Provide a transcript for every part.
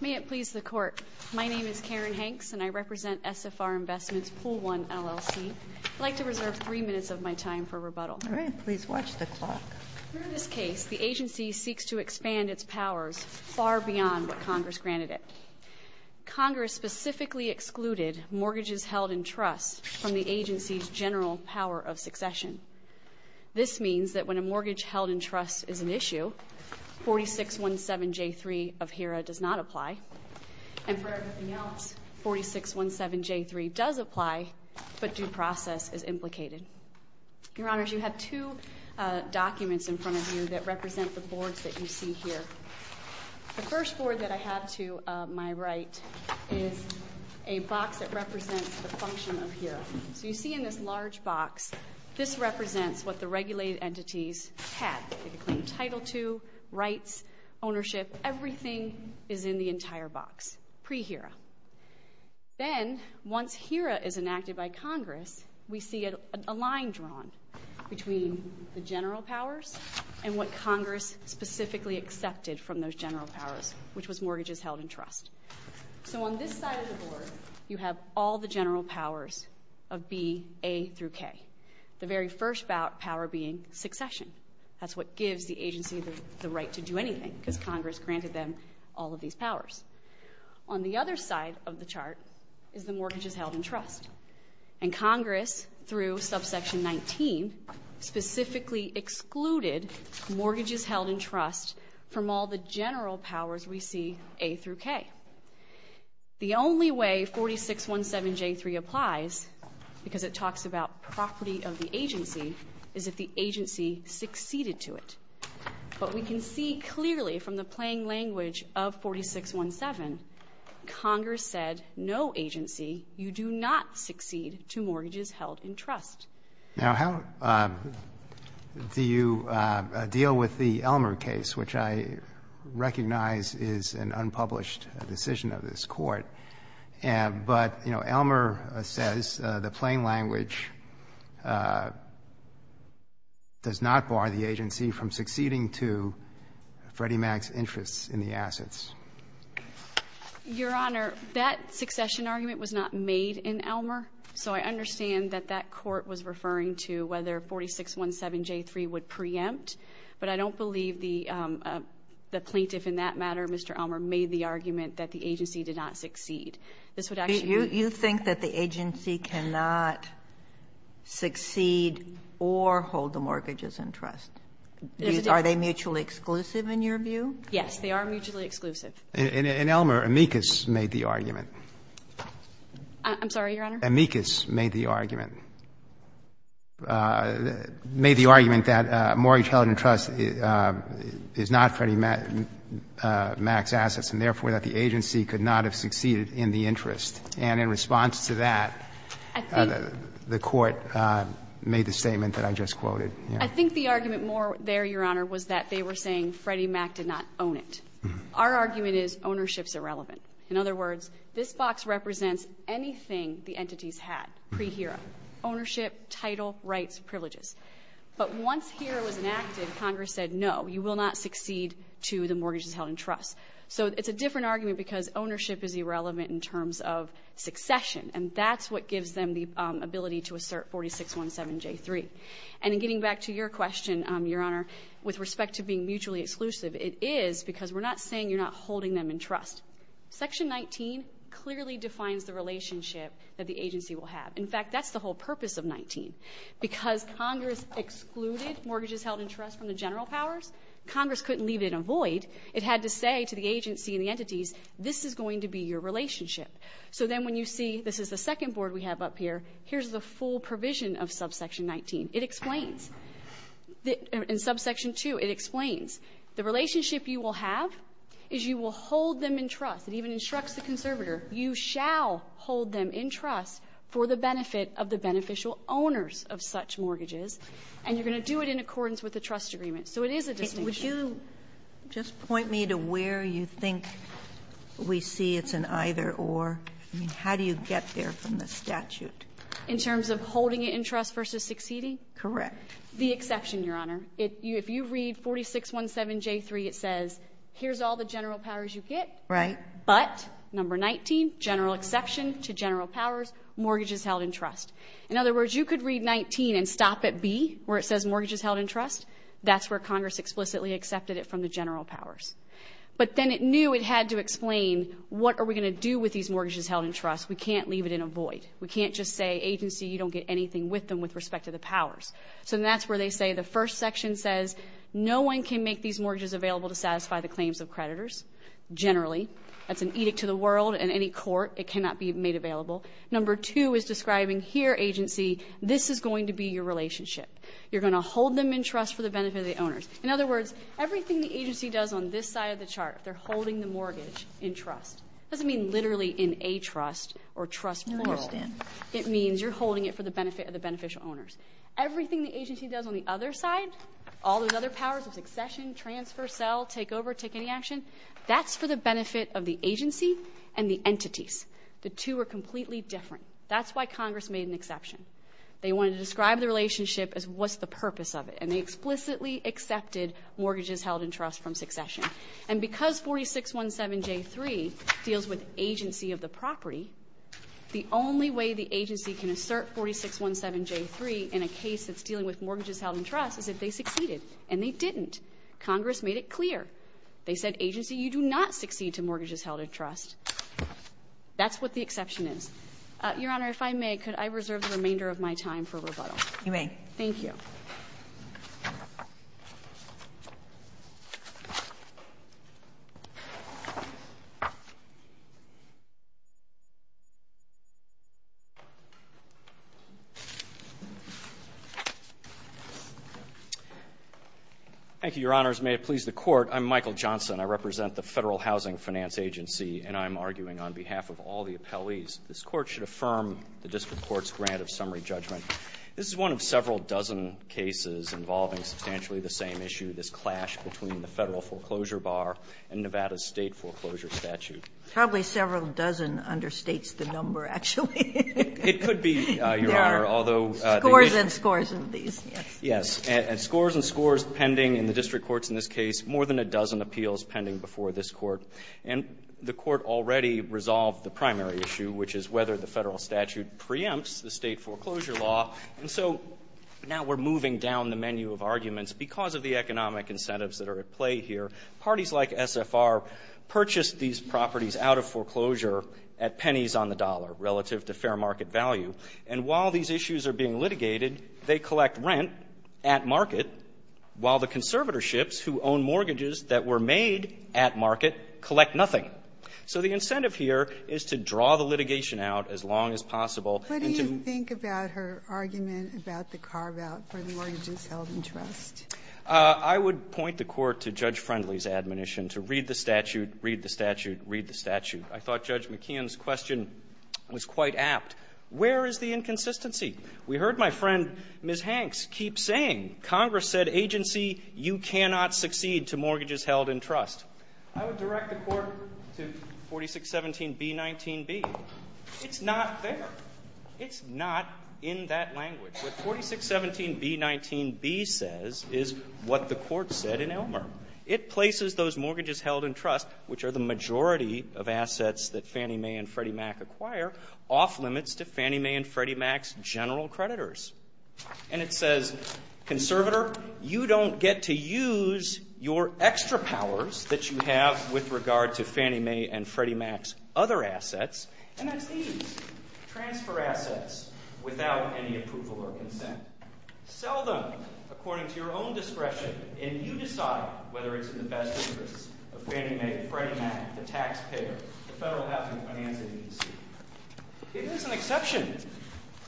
May it please the Court, my name is Karen Hanks, and I represent SFR Investments Pool 1, LLC. I'd like to reserve three minutes of my time for rebuttal. All right. Please watch the clock. In this case, the agency seeks to expand its powers far beyond what Congress granted it. Congress specifically excluded mortgages held in trust from the agency's general power of succession. This means that when a mortgage held in trust is an issue, 4617J3 of HERA does not apply. And for everything else, 4617J3 does apply, but due process is implicated. Your Honors, you have two documents in front of you that represent the boards that you see here. The first board that I have to my right is a box that represents the function of HERA. So you see in this large box, this represents what the regulated entities had. They could claim Title II, rights, ownership, everything is in the entire box, pre-HERA. Then, once HERA is enacted by Congress, we see a line drawn between the general powers and what Congress specifically accepted from those general powers, which was mortgages held in trust. So on this side of the board, you have all the general powers of B, A through K, the very first power being succession. That's what gives the agency the right to do anything because Congress granted them all of these powers. On the other side of the chart is the mortgages held in trust. And Congress, through subsection 19, specifically excluded mortgages held in trust from all the general powers we see A through K. The only way 4617J3 applies, because it talks about property of the agency, is if the agency succeeded to it. But we can see clearly from the plain language of 4617, Congress said no agency, you do not succeed to mortgages held in trust. Now, how do you deal with the Elmer case, which I recognize is an unpublished decision of this Court? But, you know, Elmer says the plain language does not bar the agency from succeeding to Freddie Mac's interests in the assets. Your Honor, that succession argument was not made in Elmer. So I understand that that Court was referring to whether 4617J3 would preempt. But I don't believe the plaintiff in that matter, Mr. Elmer, made the argument that the agency did not succeed. You think that the agency cannot succeed or hold the mortgages in trust? Are they mutually exclusive in your view? Yes, they are mutually exclusive. And Elmer, amicus, made the argument. I'm sorry, Your Honor? Amicus made the argument. Made the argument that mortgage held in trust is not Freddie Mac's assets and therefore that the agency could not have succeeded in the interest. And in response to that, the Court made the statement that I just quoted. I think the argument more there, Your Honor, was that they were saying Freddie Mac did not own it. Our argument is ownership is irrelevant. In other words, this box represents anything the entities had pre HERA, ownership, title, rights, privileges. But once HERA was enacted, Congress said, no, you will not succeed to the mortgages held in trust. So it's a different argument because ownership is irrelevant in terms of succession. And that's what gives them the ability to assert 4617J3. And in getting back to your question, Your Honor, with respect to being mutually exclusive, it is because we're not saying you're not holding them in trust. Section 19 clearly defines the relationship that the agency will have. In fact, that's the whole purpose of 19. Because Congress excluded mortgages held in trust from the general powers, Congress couldn't leave it in a void. It had to say to the agency and the entities, this is going to be your relationship. So then when you see this is the second board we have up here, here's the full provision of subsection 19. It explains. In subsection 2, it explains. The relationship you will have is you will hold them in trust. It even instructs the conservator, you shall hold them in trust for the benefit of the beneficial owners of such mortgages. And you're going to do it in accordance with the trust agreement. So it is a distinction. Ginsburg. Would you just point me to where you think we see it's an either-or? I mean, how do you get there from the statute? In terms of holding it in trust versus succeeding? Correct. The exception, Your Honor. If you read 4617J3, it says here's all the general powers you get. Right. But number 19, general exception to general powers, mortgages held in trust. In other words, you could read 19 and stop at B where it says mortgages held in trust. That's where Congress explicitly accepted it from the general powers. But then it knew it had to explain what are we going to do with these mortgages held in trust. We can't leave it in a void. We can't just say agency, you don't get anything with them with respect to the powers. So that's where they say the first section says no one can make these mortgages available to satisfy the claims of creditors generally. That's an edict to the world and any court. It cannot be made available. Number two is describing here agency, this is going to be your relationship. You're going to hold them in trust for the benefit of the owners. In other words, everything the agency does on this side of the chart, they're holding the mortgage in trust. It doesn't mean literally in a trust or trust moral. I understand. It means you're holding it for the benefit of the beneficial owners. Everything the agency does on the other side, all those other powers of succession, transfer, sell, take over, take any action, that's for the benefit of the agency and the entities. The two are completely different. That's why Congress made an exception. They wanted to describe the relationship as what's the purpose of it, and they explicitly accepted mortgages held in trust from succession. And because 4617J3 deals with agency of the property, the only way the agency can assert 4617J3 in a case that's dealing with mortgages held in trust is if they succeeded, and they didn't. Congress made it clear. They said, agency, you do not succeed to mortgages held in trust. That's what the exception is. Your Honor, if I may, could I reserve the remainder of my time for rebuttal? You may. Thank you. Thank you, Your Honors. May it please the Court, I'm Michael Johnson. I represent the Federal Housing Finance Agency, and I'm arguing on behalf of all the appellees, this Court should affirm the District Court's grant of summary judgment. This is one of several dozen cases involving substantially the same issue, this clash between the Federal foreclosure bar and Nevada's State foreclosure statute. Probably several dozen understates the number, actually. It could be, Your Honor. There are scores and scores of these, yes. Yes. And scores and scores pending in the District Courts in this case, more than a dozen appeals pending before this Court. And the Court already resolved the primary issue, which is whether the Federal statute preempts the State foreclosure law. And so now we're moving down the menu of arguments. Because of the economic incentives that are at play here, parties like SFR purchased these properties out of foreclosure at pennies on the dollar relative to fair market value. And while these issues are being litigated, they collect rent at market, while the conservatorships who own mortgages that were made at market collect nothing. So the incentive here is to draw the litigation out as long as possible and to ---- What do you think about her argument about the carve-out for the mortgages held in trust? I would point the Court to Judge Friendly's admonition to read the statute, read the statute, read the statute. I thought Judge McKeon's question was quite apt. Where is the inconsistency? We heard my friend, Ms. Hanks, keep saying Congress said agency, you cannot succeed to mortgages held in trust. I would direct the Court to 4617b19b. It's not there. It's not in that language. What 4617b19b says is what the Court said in Elmer. It places those mortgages held in trust, which are the majority of assets that Fannie Mae and Freddie Mac acquire, off limits to Fannie Mae and Freddie Mac's general creditors. And it says, conservator, you don't get to use your extra powers that you have with regard to Fannie Mae and Freddie Mac's other assets, and that's these, transfer assets without any approval or consent. Sell them according to your own discretion, and you decide whether it's in the best interests of Fannie Mae and Freddie Mac, the taxpayer, the Federal Housing Finance Agency. It is an exception.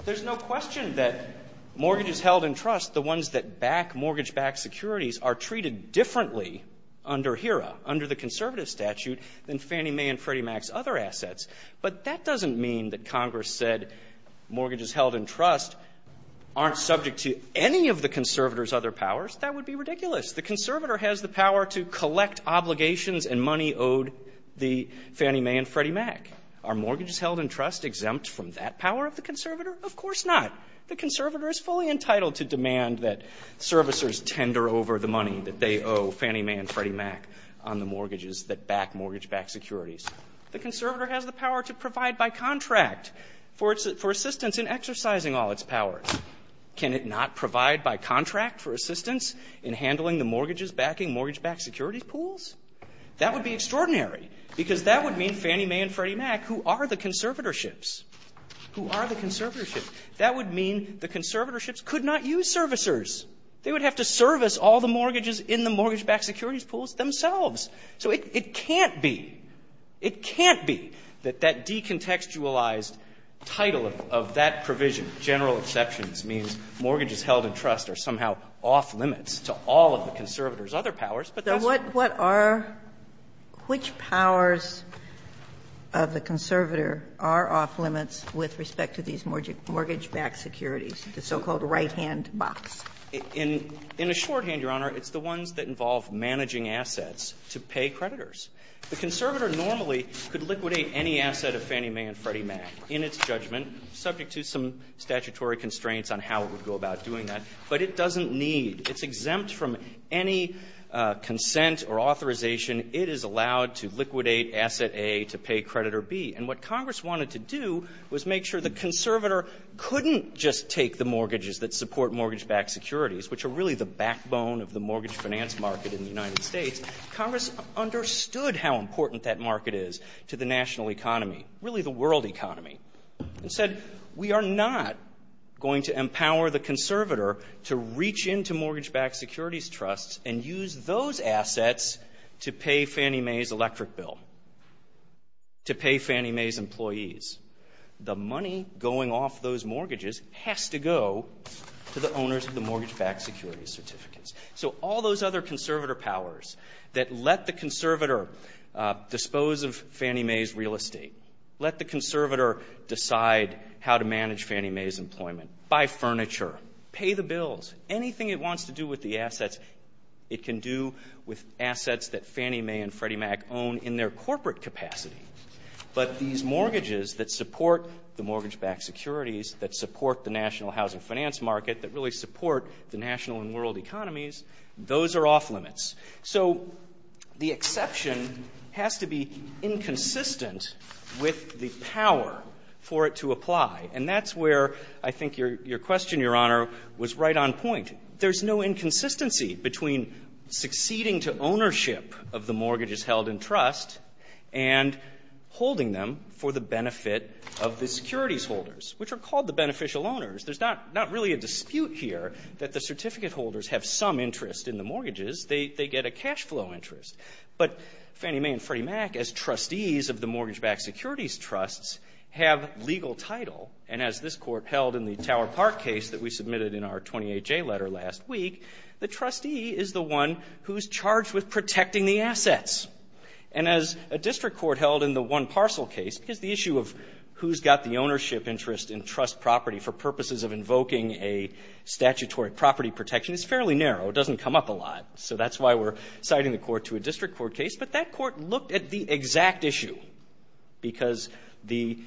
There's no question that mortgages held in trust, the ones that back mortgage-backed securities, are treated differently under HERA, under the conservative statute, than Fannie Mae and Freddie Mac's other assets. But that doesn't mean that Congress said mortgages held in trust aren't subject to any of the conservator's other powers. That would be ridiculous. The conservator has the power to collect obligations and money owed the Fannie Mae and Freddie Mac. Are mortgages held in trust exempt from that power of the conservator? Of course not. The conservator is fully entitled to demand that servicers tender over the money that they owe Fannie Mae and Freddie Mac on the mortgages that back mortgage-backed securities. The conservator has the power to provide by contract for assistance in exercising all its powers. Can it not provide by contract for assistance in handling the mortgages backing mortgage-backed securities pools? That would be extraordinary, because that would mean Fannie Mae and Freddie Mac, who are the conservatorships, who are the conservatorships, that would mean the conservatorships could not use servicers. They would have to service all the mortgages in the mortgage-backed securities pools themselves. So it can't be, it can't be that that decontextualized title of that provision, general exceptions, means mortgages held in trust are somehow off limits to all of the conservators' other powers, but that's not true. What are the powers of the conservator are off limits with respect to these mortgage-backed securities, the so-called right-hand box? In a shorthand, Your Honor, it's the ones that involve managing assets to pay creditors. The conservator normally could liquidate any asset of Fannie Mae and Freddie Mac in its judgment, subject to some statutory constraints on how it would go about doing that, but it doesn't need. It's exempt from any consent or authorization. It is allowed to liquidate asset A to pay creditor B. And what Congress wanted to do was make sure the conservator couldn't just take the mortgage-backed securities, which are really the backbone of the mortgage finance market in the United States, Congress understood how important that market is to the national economy, really the world economy, and said, we are not going to empower the conservator to reach into mortgage-backed securities trusts and use those assets to pay Fannie Mae's electric bill, to pay Fannie Mae's employees. The money going off those mortgages has to go to the owners of the mortgage-backed securities certificates. So all those other conservator powers that let the conservator dispose of Fannie Mae's real estate, let the conservator decide how to manage Fannie Mae's employment, buy furniture, pay the bills, anything it wants to do with the assets, it can do with assets that Fannie Mae and Freddie Mac own in their corporate capacity. But these mortgages that support the mortgage-backed securities, that support the national housing finance market, that really support the national and world economies, those are off limits. So the exception has to be inconsistent with the power for it to apply. And that's where I think your question, Your Honor, was right on point. There's no inconsistency between succeeding to ownership of the mortgages held in trust and holding them for the benefit of the securities holders, which are called the beneficial owners. There's not really a dispute here that the certificate holders have some interest in the mortgages. They get a cash flow interest. But Fannie Mae and Freddie Mac, as trustees of the mortgage-backed securities trusts, have legal title. And as this Court held in the Tower Park case that we submitted in our 28J letter last week, the trustee is the one who's charged with protecting the assets. And as a district court held in the one parcel case, because the issue of who's got the ownership interest in trust property for purposes of invoking a statutory property protection is fairly narrow. It doesn't come up a lot. So that's why we're citing the court to a district court case. But that court looked at the exact issue, because the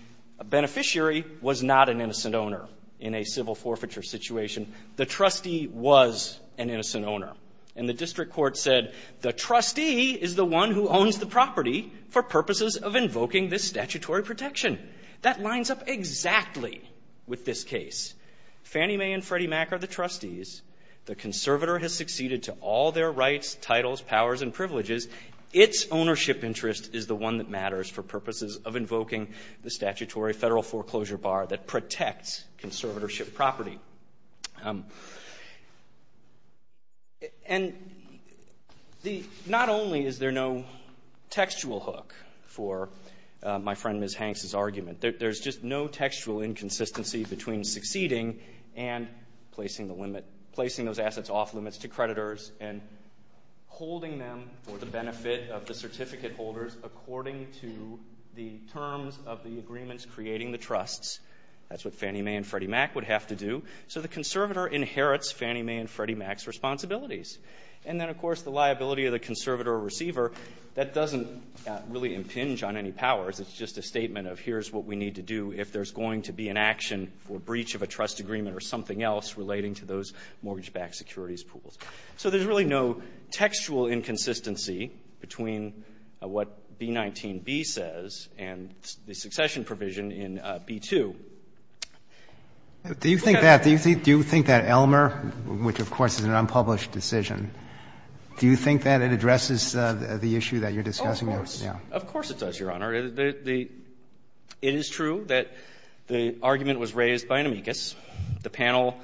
beneficiary was not an innocent owner in a civil forfeiture situation. The trustee was an innocent owner. And the district court said, the trustee is the one who owns the property for purposes of invoking this statutory protection. That lines up exactly with this case. Fannie Mae and Freddie Mac are the trustees. The conservator has succeeded to all their rights, titles, powers, and privileges. Its ownership interest is the one that matters for purposes of invoking the statutory Federal foreclosure bar that protects conservatorship property. And the — not only is there no textual hook for my friend Ms. Hanks's argument that there's just no textual inconsistency between succeeding and placing the limit — placing those assets off limits to creditors and holding them for the benefit of the certificate holders according to the terms of the agreements creating the trusts. That's what Fannie Mae and Freddie Mac would have to do. So the conservator inherits Fannie Mae and Freddie Mac's responsibilities. And then, of course, the liability of the conservator or receiver, that doesn't really impinge on any powers. It's just a statement of here's what we need to do if there's going to be an action for breach of a trust agreement or something else relating to those mortgage-backed securities pools. So there's really no textual inconsistency between what B-19-B says and the succession provision in B-2. Do you think that — do you think that Elmer, which, of course, is an unpublished decision, do you think that it addresses the issue that you're discussing now? Of course. Of course it does, Your Honor. The — it is true that the argument was raised by an amicus. The panel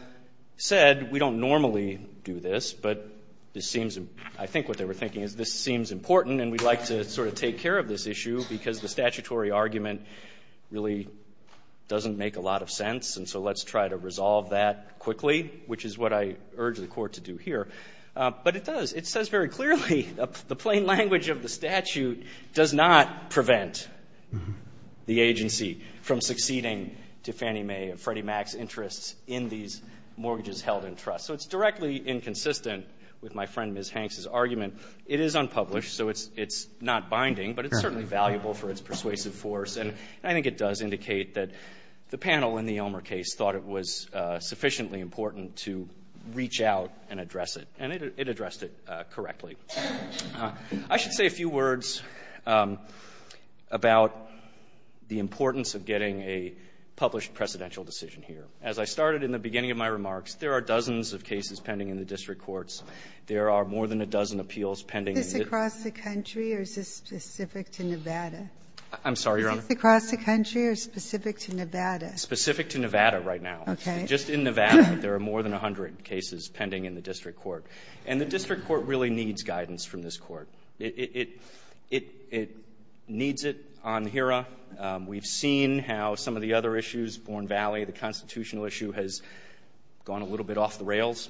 said, we don't normally do this, but this seems — I think what they were thinking is, this seems important and we'd like to sort of take care of this issue because the statutory argument really doesn't make a lot of sense, and so let's try to resolve that quickly, which is what I urge the Court to do here. But it does. It says very clearly, the plain language of the statute does not prevent the agency from succeeding to Fannie Mae and Freddie Mac's interests in these mortgages held in trust. So it's directly inconsistent with my friend Ms. Hanks's argument. It is unpublished, so it's not binding, but it's certainly valuable for its persuasive force. And I think it does indicate that the panel in the Elmer case thought it was sufficiently important to reach out and address it. And it addressed it correctly. I should say a few words about the importance of getting a published precedential decision here. As I started in the beginning of my remarks, there are dozens of cases pending in the district courts. There are more than a dozen appeals pending in the — Is this across the country or is this specific to Nevada? I'm sorry, Your Honor? Is this across the country or specific to Nevada? Specific to Nevada right now. Okay. Just in Nevada, there are more than 100 cases pending in the district court. And the district court really needs guidance from this court. It needs it on HERA. We've seen how some of the other issues, Bourne Valley, the constitutional issue, has gone a little bit off the rails.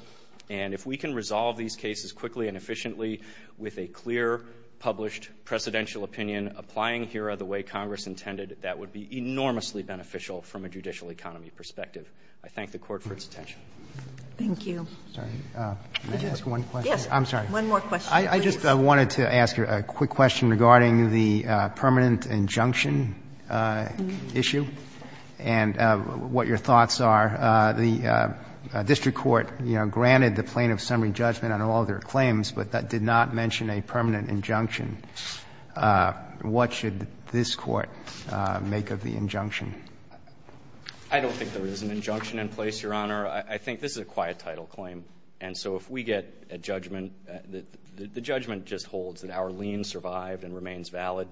And if we can resolve these cases quickly and efficiently with a clear, published, precedential opinion, applying HERA the way Congress intended, that would be enormously beneficial from a judicial economy perspective. I thank the Court for its attention. Thank you. May I ask one question? Yes. I'm sorry. One more question, please. I just wanted to ask a quick question regarding the permanent injunction issue and what your thoughts are. The district court, you know, granted the plaintiff's summary judgment on all of their claims, but that did not mention a permanent injunction. What should this Court make of the injunction? I don't think there is an injunction in place, Your Honor. I think this is a quiet title claim. And so if we get a judgment, the judgment just holds that our lien survived and remains valid.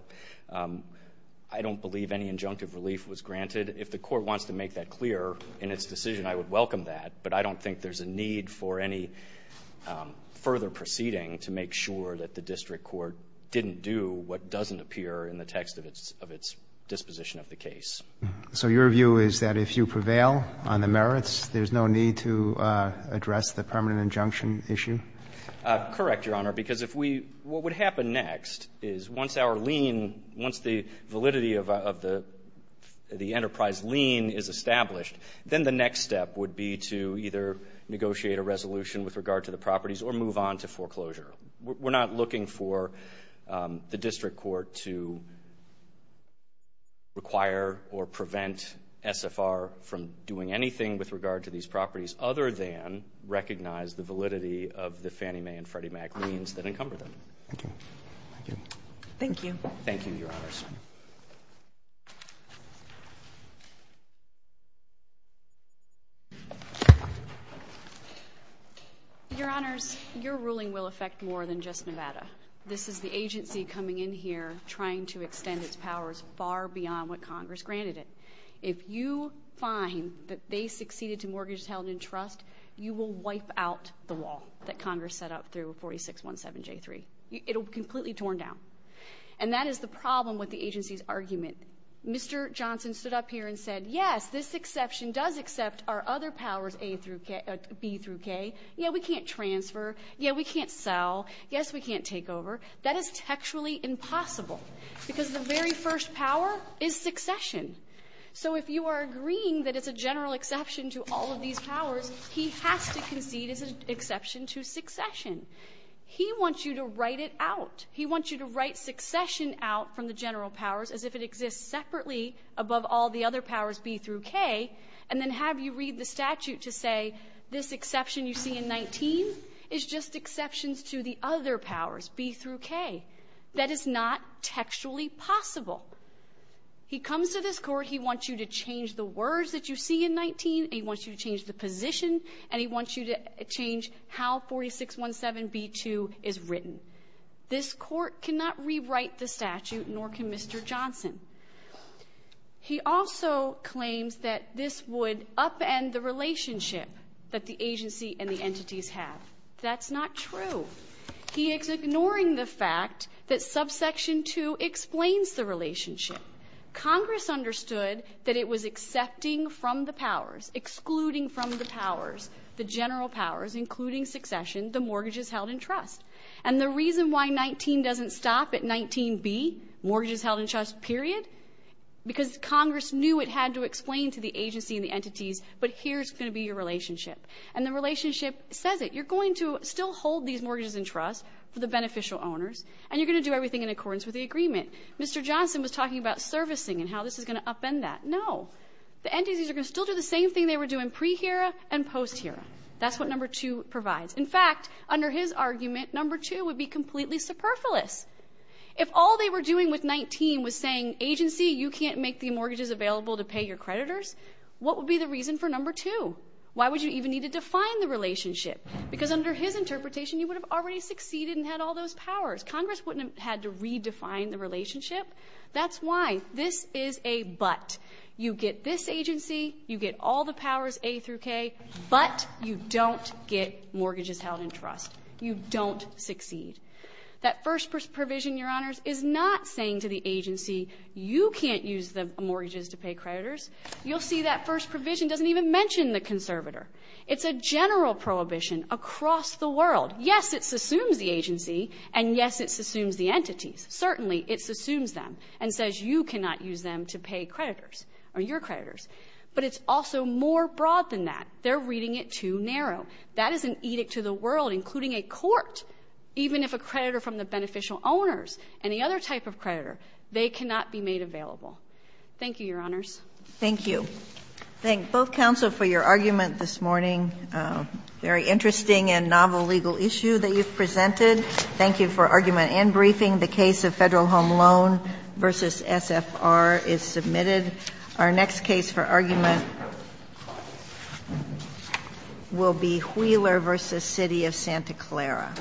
I don't believe any injunctive relief was granted. If the Court wants to make that clear in its decision, I would welcome that. But I don't think there's a need for any further proceeding to make sure that the district court didn't do what doesn't appear in the text of its disposition of the case. So your view is that if you prevail on the merits, there's no need to address the permanent injunction issue? Correct, Your Honor, because if we what would happen next is once our lien, once the validity of the enterprise lien is established, then the next step would be to either negotiate a resolution with regard to the properties or move on to foreclosure. We're not looking for the district court to require or prevent SFR from doing anything with regard to these properties other than recognize the validity of the Fannie Mae and Freddie Mac liens that encumber them. Thank you. Thank you. Thank you, Your Honors. This is more than just Nevada. This is the agency coming in here trying to extend its powers far beyond what Congress granted it. If you find that they succeeded to mortgage, title, and entrust, you will wipe out the wall that Congress set up through 4617J3. It'll be completely torn down. And that is the problem with the agency's argument. Mr. Johnson stood up here and said, yes, this exception does accept our other powers, A through K, B through K. Yeah, we can't transfer. Yeah, we can't sell. Yes, we can't take over. That is textually impossible, because the very first power is succession. So if you are agreeing that it's a general exception to all of these powers, he has to concede it's an exception to succession. He wants you to write it out. He wants you to write succession out from the general powers as if it exists separately above all the other powers, B through K, and then have you read the statute to say this exception you see in 19 is just exceptions to the other powers, B through K. That is not textually possible. He comes to this Court. He wants you to change the words that you see in 19. He wants you to change the position, and he wants you to change how 4617B2 is written. This Court cannot rewrite the statute, nor can Mr. Johnson. He also claims that this would upend the relationship that the agency and the entities have. That's not true. He is ignoring the fact that subsection 2 explains the relationship. Congress understood that it was accepting from the powers, excluding from the powers, the general powers, including succession, the mortgages held in trust. And the reason why 19 doesn't stop at 19B, mortgages held in trust, period, because Congress knew it had to explain to the agency and the entities, but here's going to be your relationship. And the relationship says it. You're going to still hold these mortgages in trust for the beneficial owners, and you're going to do everything in accordance with the agreement. Mr. Johnson was talking about servicing and how this is going to upend that. No. The entities are going to still do the same thing they were doing pre-HERA and post-HERA. That's what number 2 provides. In fact, under his argument, number 2 would be completely superfluous. If all they were doing with 19 was saying, agency, you can't make the mortgages available to pay your creditors, what would be the reason for number 2? Why would you even need to define the relationship? Because under his interpretation, you would have already succeeded and had all those powers. Congress wouldn't have had to redefine the relationship. That's why this is a but. You get this agency, you get all the powers A through K, but you don't get mortgages held in trust. You don't succeed. That first provision, Your Honors, is not saying to the agency, you can't use the mortgages to pay creditors. You'll see that first provision doesn't even mention the conservator. It's a general prohibition across the world. Yes, it assumes the agency, and yes, it assumes the entities. Certainly, it assumes them and says you cannot use them to pay creditors or your creditors. But it's also more broad than that. They're reading it too narrow. That is an edict to the world, including a court. Even if a creditor from the beneficial owners, any other type of creditor, they cannot be made available. Thank you, Your Honors. Thank you. Thank both counsel for your argument this morning. Very interesting and novel legal issue that you've presented. Thank you for argument and briefing. The case of Federal Home Loan v. SFR is submitted. Our next case for argument will be Wheeler v. City of Santa Clara.